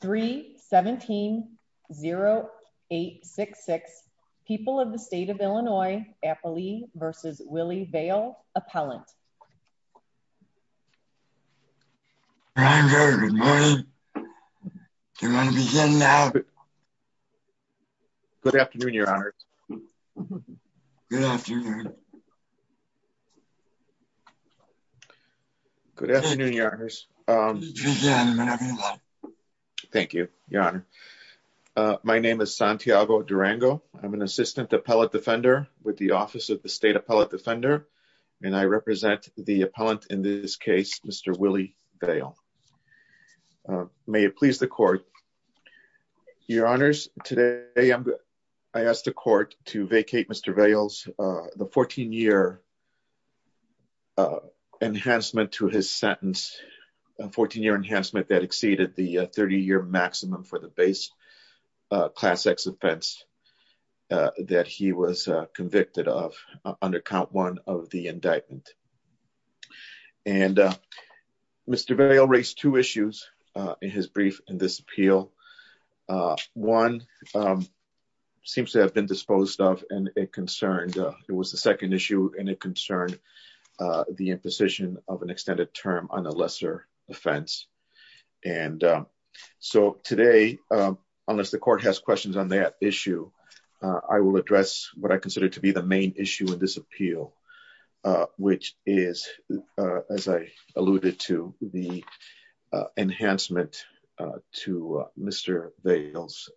3 17 0 8 6 6 people of the state of Illinois Appalee vs. Willie Vail appellant. I'm very good morning. Do you want to begin now? Good afternoon your honors. Good afternoon. Good afternoon your honors. Thank you your honor. My name is Santiago Durango. I'm an assistant appellate defender with the office of the state appellate defender and I represent the appellant in this case Mr. Willie Vail. May it please the court your honors today I asked the 14-year enhancement to his sentence 14-year enhancement that exceeded the 30-year maximum for the base class x offense that he was convicted of under count one of the indictment and Mr. Vail raised two issues in his brief in this appeal. One seems to have been disposed of and it concerned it was the second issue and it concerned the imposition of an extended term on the lesser offense and so today unless the court has questions on that issue I will address what I consider to be the main issue in this appeal which is as I alluded to the enhancement to Mr. Vail's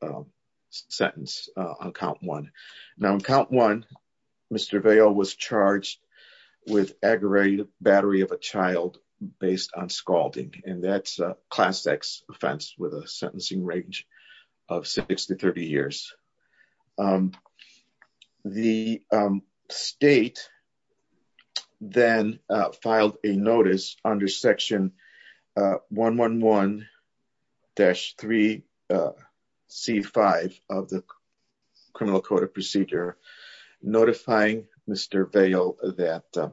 sentence on count one. Now in count one Mr. Vail was charged with aggravated battery of a child based on scalding and that's a class x offense with a sentencing range of 60-30 years. The state then filed a notice under section 111-3 c5 of the criminal court of procedure notifying Mr. Vail that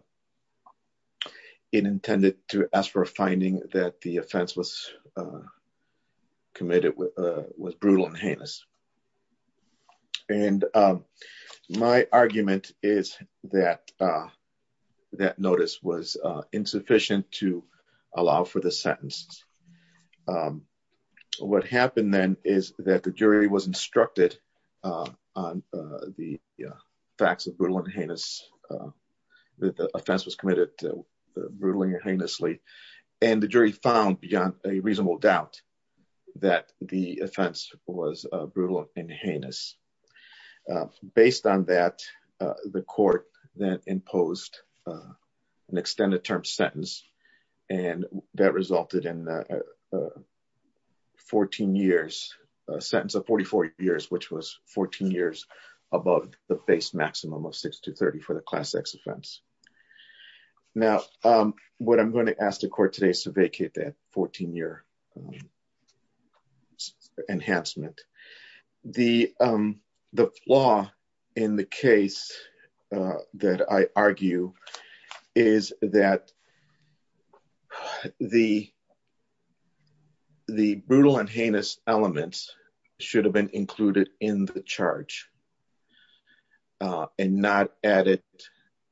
it intended to ask for a finding that the offense was brutal and heinous and my argument is that that notice was insufficient to allow for the sentence. What happened then is that the jury was instructed on the facts of brutal and heinous that the offense was committed brutally and heinously and the jury found beyond a reasonable doubt that the offense was brutal and heinous. Based on that the court then imposed an extended term sentence and that resulted in 14 years a sentence of 44 years which was 14 years above the base maximum of 60-30 for the class x offense. Now what I'm going to ask the court today is to vacate that 14-year enhancement. The flaw in the case that I argue is that the brutal and heinous elements should have been included in the charge and not added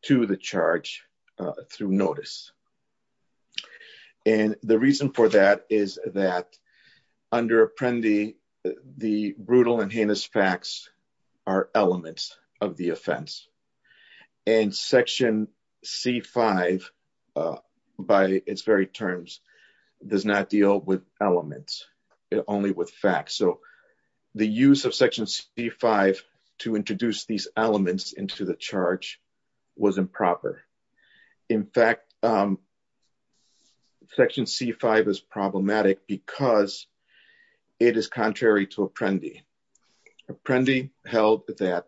to the charge through notice and the reason for that is that under Apprendi the brutal and heinous facts are elements of the offense and section c5 by its very terms does not deal with elements only with facts so the use of section c5 to introduce these elements into the charge was improper. In fact section c5 is problematic because it is contrary to Apprendi. Apprendi held that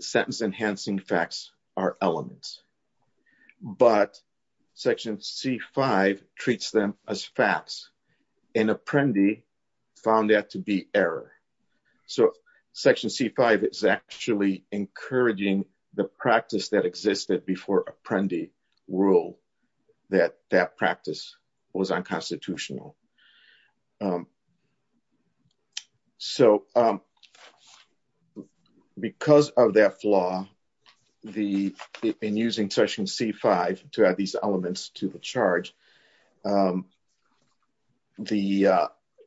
sentence enhancing facts are elements but section c5 treats them as facts and Apprendi found that to be error so section c5 is actually encouraging the practice that existed before Apprendi rule that that practice was unconstitutional. So because of that flaw in using section c5 to add these elements to the charge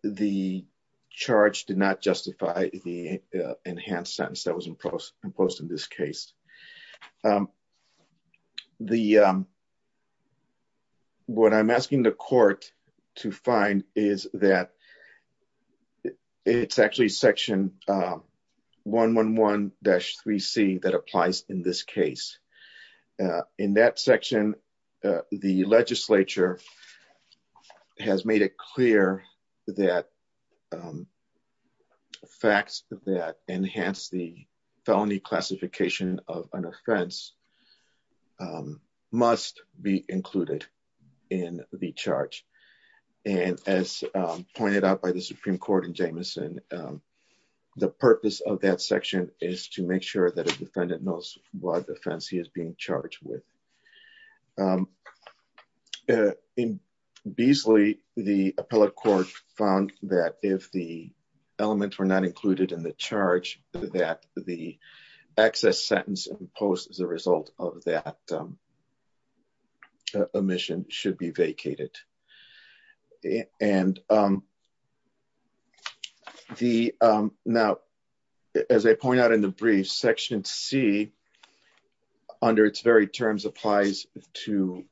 the charge did not justify the enhanced sentence that was imposed in this case. So what I'm asking the court to find is that it's actually section 111-3c that applies in this case. In that section the legislature has made it clear that facts that enhance the felony classification of an offense must be included in the charge and as pointed out by the Supreme Court in Jameson the purpose of that section is to make sure that a defendant knows what offense he is being charged with. In Beasley the appellate court found that if the elements were not included in the charge that the excess sentence imposed as a result of that omission should be vacated. Now as I point out in the brief section c under its very terms applies to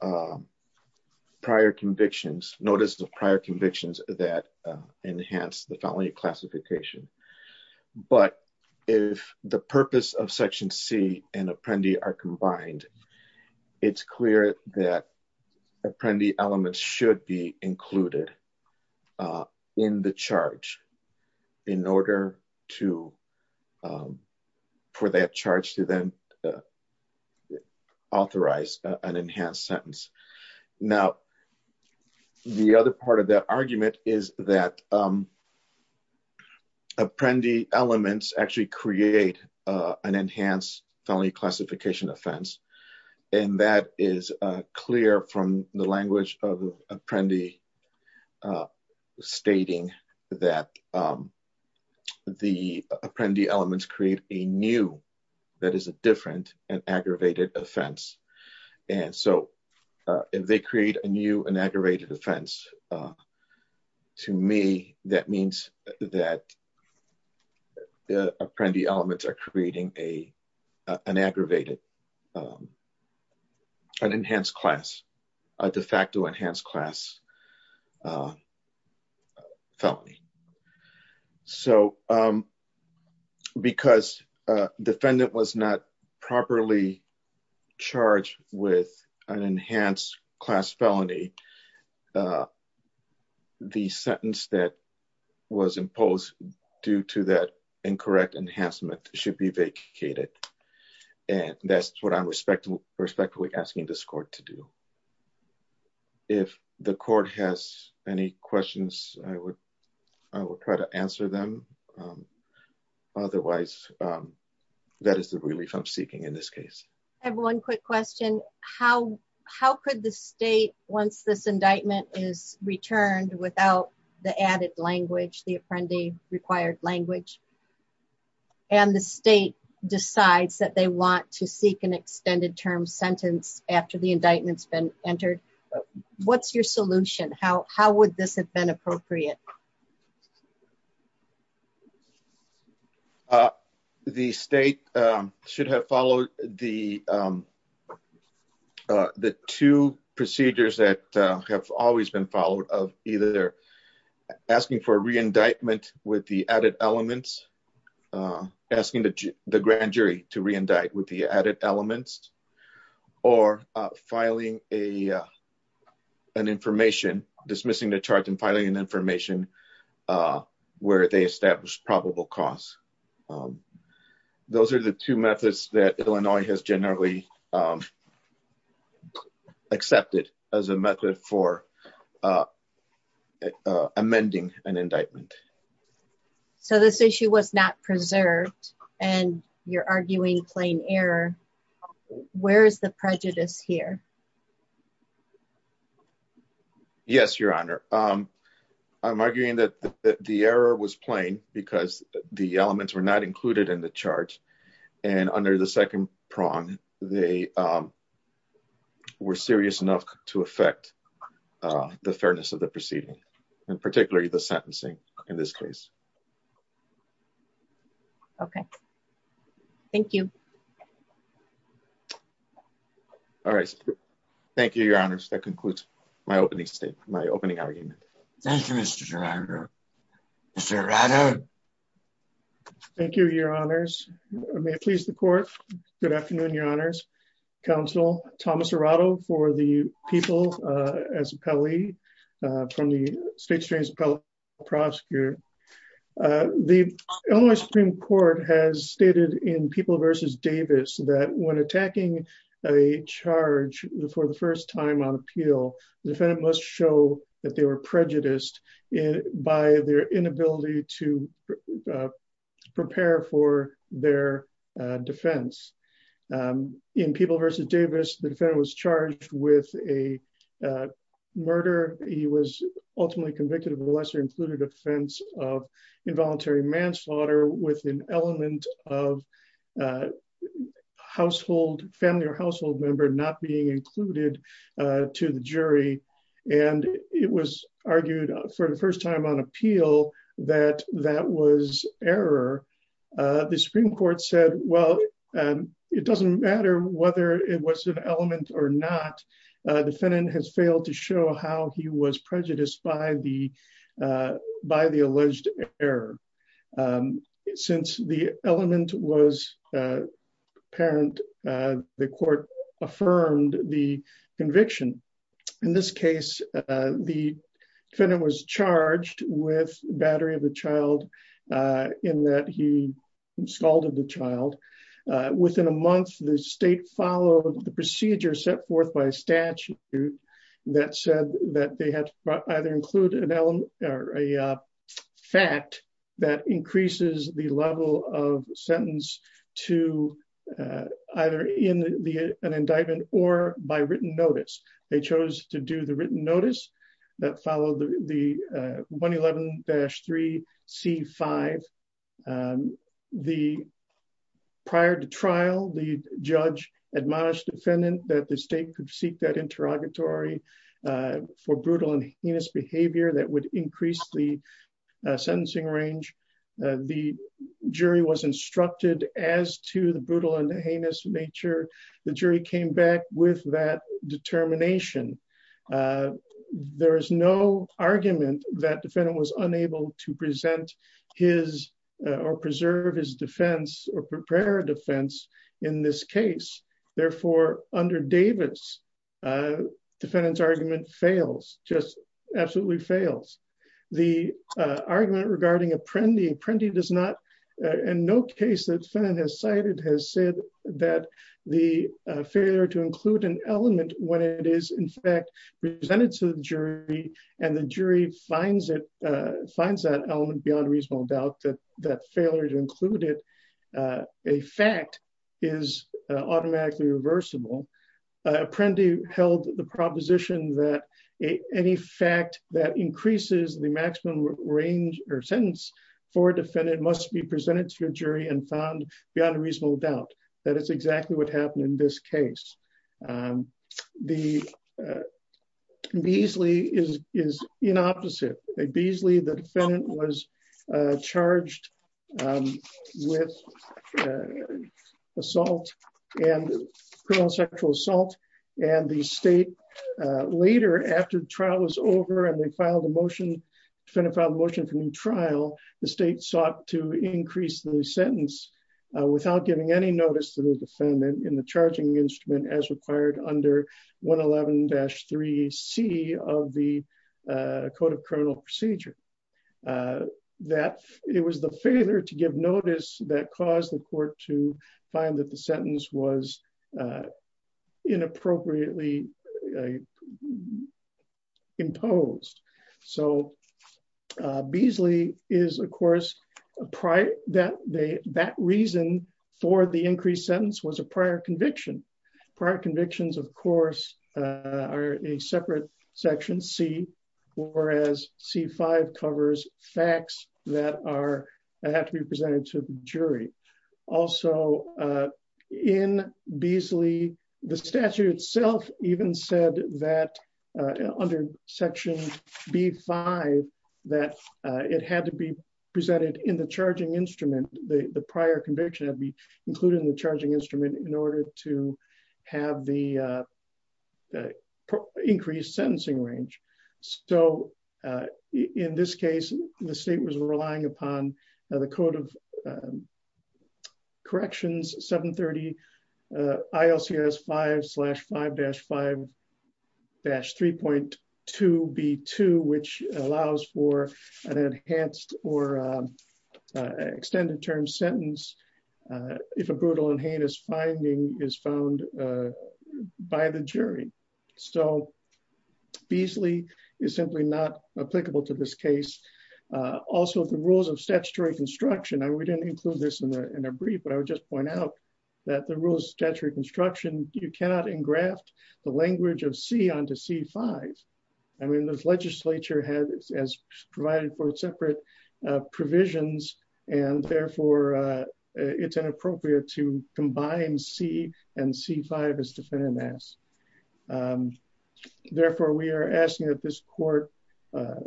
prior convictions notice of prior convictions that enhance the felony classification but if the purpose of section c and Apprendi are combined it's clear that Apprendi elements should be included in the charge in order for that charge to then authorize an enhanced sentence. Now the other part of that argument is that Apprendi elements actually create an enhanced felony classification offense and that is clear from the language of Apprendi stating that the Apprendi elements create a new that is a different and aggravated offense and so if they create a new and aggravated offense to me that means that the Apprendi elements are creating a an aggravated an enhanced class a de facto enhanced class felony. So because a defendant was not properly charged with an enhanced class felony uh the sentence that was imposed due to that incorrect enhancement should be vacated and that's what I'm respectfully asking this court to do. If the court has any questions I would I would try to answer them otherwise that is the relief I'm seeking in this case. I have one quick question how how could the state once this indictment is returned without the added language the Apprendi required language and the state decides that they want to seek an extended term sentence after the indictment's been entered what's your solution how how would this have been appropriate? uh the state should have followed the the two procedures that have always been followed of either asking for a re-indictment with the added elements asking the grand jury to re-indict with the added elements or filing a an information dismissing the charge and filing an information uh where they establish probable cause those are the two methods that Illinois has generally um accepted as a method for uh uh amending an indictment. So this issue was not preserved and you're arguing plain error where is the prejudice here? Yes your honor um I'm arguing that the error was plain because the elements were not included in the charge and under the second prong they um were serious enough to affect uh the fairness of the proceeding and particularly the sentencing in this case. Okay, thank you. All right thank you your honors that concludes my opening statement my opening argument. Thank you Mr. Gerardo. Mr. Gerardo. Thank you your honors may it please the court good afternoon your honors council Thomas Gerardo for the people uh as appellee uh from the state's transparent prosecutor uh the Illinois Supreme Court has stated in People v. Davis that when attacking a charge for the first time on appeal the defendant must show that they were prejudiced by their inability to prepare for their defense. In People v. Davis the defendant was charged with a murder he was ultimately convicted of a lesser included offense of involuntary manslaughter with an element of household family or household member not being included to the jury and it was argued for the first time on appeal that that was error. The Supreme Court said well it doesn't matter whether it was an element or not the defendant has failed to show how he was prejudiced by the uh by the alleged error. Since the element was uh apparent uh the court affirmed the conviction in this case uh the defendant was charged with battery of the child uh in that he scalded the child uh within a month the state followed the procedure set forth by statute that said that they had to either include an element or a fact that increases the level of sentence to either in the an indictment or by written notice. They chose to do the written notice that followed the 111-3 c5. The prior to trial the judge admonished defendant that the state could seek that interrogatory for brutal and heinous behavior that would increase the sentencing range. The jury was instructed as to the brutal and heinous nature the jury came back with that determination. There is no argument that defendant was unable to present his or preserve his defense or prepare defense in this case therefore under Davis uh defendant's argument fails just absolutely fails. The uh argument regarding Apprendi. Apprendi does not in no case the defendant has cited has said that the failure to include an element when it is in fact presented to the jury and the jury finds it uh finds that element beyond reasonable doubt that that failure to include it uh a fact is automatically reversible. Apprendi held the proposition that any fact that increases the maximum range or sentence for a defendant must be presented to a jury and found beyond a reasonable doubt that is exactly what happened in this case. The Beasley is is in opposite a Beasley the defendant was uh charged um with uh assault and criminal sexual assault and the state uh later after trial was over and they filed a motion defendant filed a motion for new trial the state sought to increase the sentence without giving any notice to the defendant in the charging instrument as required under 111-3c of the uh code of criminal procedure. That it was the failure to give notice that caused the court to find that the sentence was uh prior that they that reason for the increased sentence was a prior conviction prior convictions of course uh are a separate section c whereas c5 covers facts that are that have to be presented to the jury. Also uh in Beasley the statute itself even said that uh under section b5 that it had to be presented in the charging instrument the the prior conviction had to be included in the charging instrument in order to have the uh increased sentencing range. So uh in this case the state was relying upon the code of um corrections 730 uh ilcs 5 5-5 dash 3.2 b2 which allows for an enhanced or uh uh extended term sentence uh if a brutal and heinous finding is found uh by the jury. So Beasley is simply not applicable to this case. Also the rules of statutory construction I would include this in the in a brief but I would just point out that the rule of statutory construction you cannot engraft the language of c onto c5. I mean this legislature has as provided for separate uh provisions and therefore uh it's inappropriate to combine c and c5 as defendant asks. Therefore we are asking that this court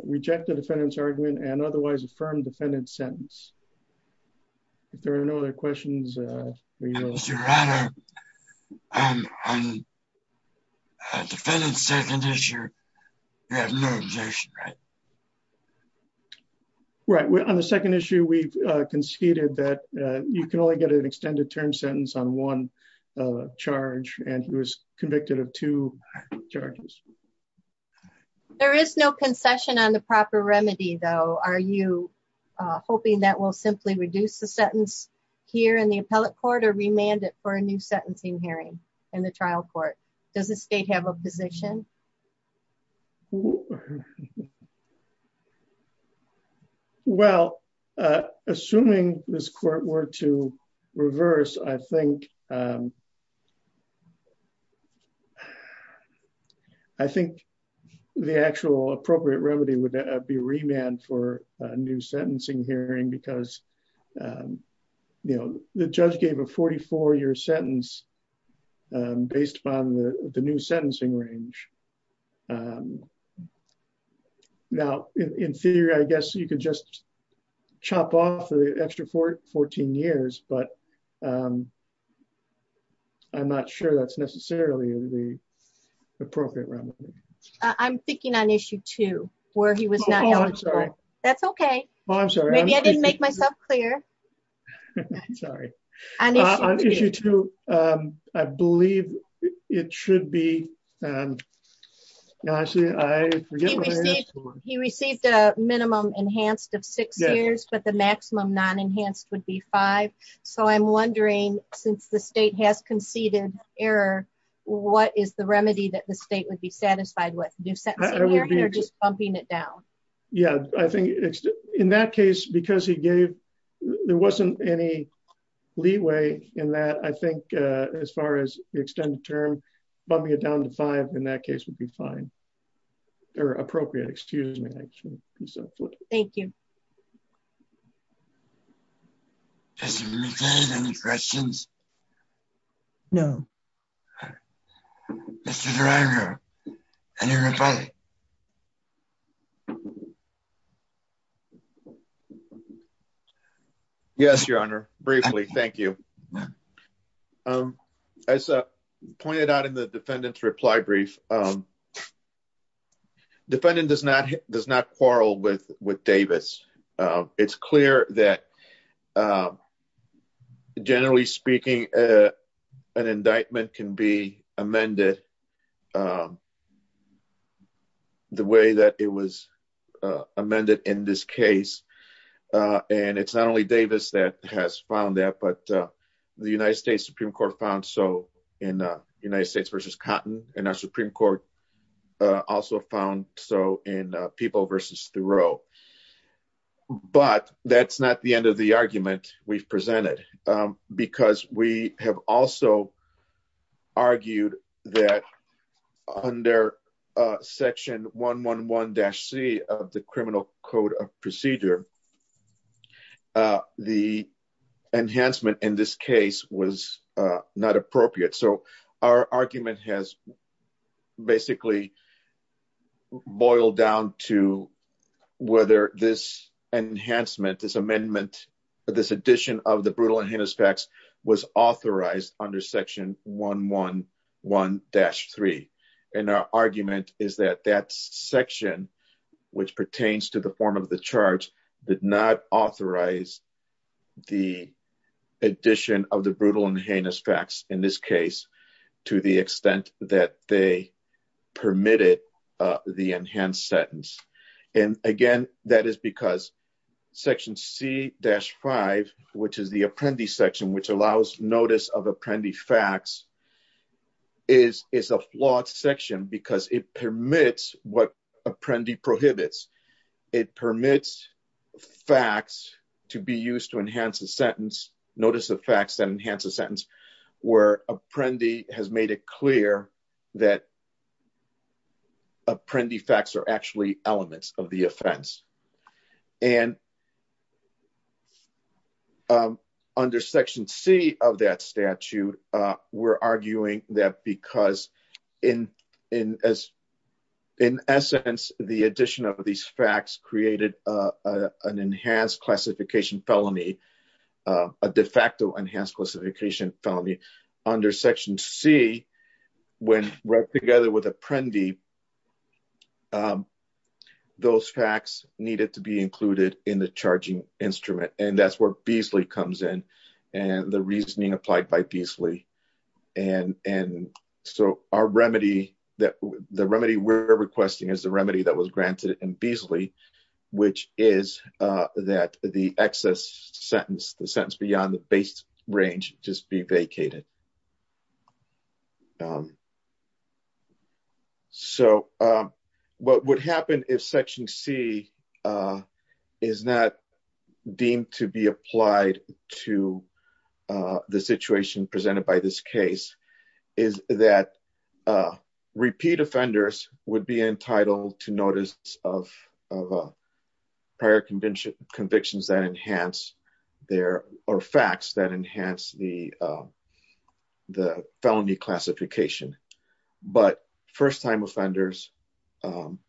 reject the defendant's argument and otherwise affirm defendant's sentence. If there are no other questions uh right on the second issue we've uh conceded that uh you can only get an extended term sentence on one uh charge and he was convicted of two charges. There is no concession on the proper remedy though. Are you uh hoping that will simply reduce the sentence here in the appellate court or remand it for a new sentencing hearing in the trial court? Does the state have a position? Well uh assuming this court were to reverse I think um new sentencing hearing because um you know the judge gave a 44 year sentence based on the new sentencing range. Now in theory I guess you could just chop off the extra 14 years but um I'm not sure that's necessarily the appropriate remedy. I'm thinking on issue two where he was not that's okay. Maybe I didn't make myself clear. Sorry. On issue two um I believe it should be um he received a minimum enhanced of six years but the maximum non-enhanced would be five so I'm wondering since the state has conceded error what is the remedy that the state would satisfied with? New sentencing hearing or just bumping it down? Yeah I think it's in that case because he gave there wasn't any leeway in that I think uh as far as the extended term bumping it down to five in that case would be fine or appropriate. Excuse me. Thank you. Mr. McKay, any questions? No. Mr. DeRionnero, any reply? Yes your honor briefly thank you. Um as uh pointed out in the defendant's reply brief um the defendant does not does not quarrel with with Davis. It's clear that generally speaking an indictment can be amended the way that it was amended in this case and it's not only Davis that has found that but the United States Supreme Court found so in United States versus Cotton and our Supreme Court also found so in People versus Thoreau but that's not the end of the argument we've presented because we have also argued that under section 111-c of the criminal code of procedure uh the enhancement in this case was uh not appropriate so our argument has basically boiled down to whether this enhancement this amendment this addition of the brutal and heinous facts was authorized under section 111-3 and our argument is that that section which pertains to the form of the charge did not authorize the addition of the brutal and heinous facts in this case to the extent that they permitted uh the enhanced sentence and again that is because section c-5 which is the apprentice section which allows notice of apprendi prohibits it permits facts to be used to enhance a sentence notice of facts that enhance a sentence where apprendi has made it clear that apprendi facts are actually elements of the offense and um under section c of that statute uh we're arguing that because in in as in essence the addition of these facts created uh an enhanced classification felony a de facto enhanced classification felony under section c when right together with apprendi those facts needed to be included in the charging instrument and that's where Beasley comes in and the reasoning applied by Beasley and and so our remedy that the remedy we're requesting is the remedy that was granted in Beasley which is uh that the excess sentence the sentence beyond the base range just be vacated um so um what would happen if section c uh is not deemed to be applied to uh the situation presented by this case is that uh repeat offenders would be entitled to notice of of a prior conviction convictions that enhance their or facts that enhance the um the felony classification but first-time offenders um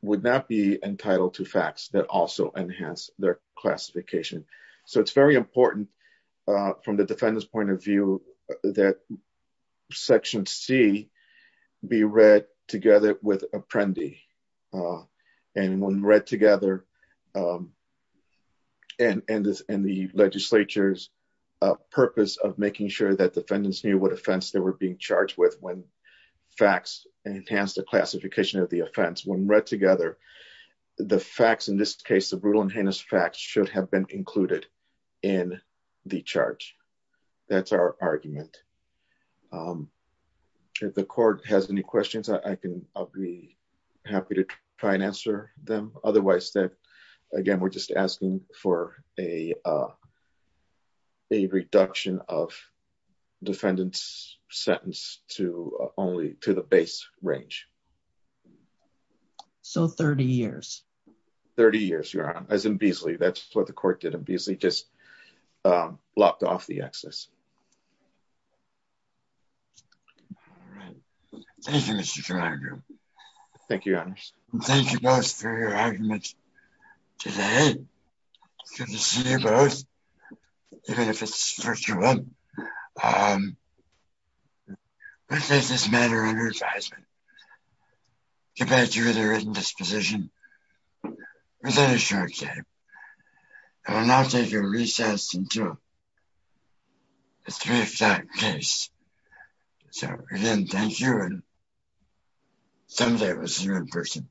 would not be entitled to facts that also enhance their classification so it's very important uh from the defendant's point of view that section c be read together with apprendi uh and when read together um and and this and the legislature's uh purpose of making sure that defendants knew what offense they were being charged with when facts enhanced the classification of the offense when read together the facts in this case the brutal and heinous facts should have been included in the charge that's our argument um if the court has any questions i can i'll be happy to try and answer them otherwise that again we're just asking for a uh a reduction of 30 years 30 years your honor as in Beasley that's what the court did and Beasley just um lopped off the excess all right thank you mr thank you and thank you both for your arguments today good to see you both even if it's virtual um what does this matter under advisement compared to the written disposition within a short time i will not take a recess until the three of that case so again thank you and someday it was the right person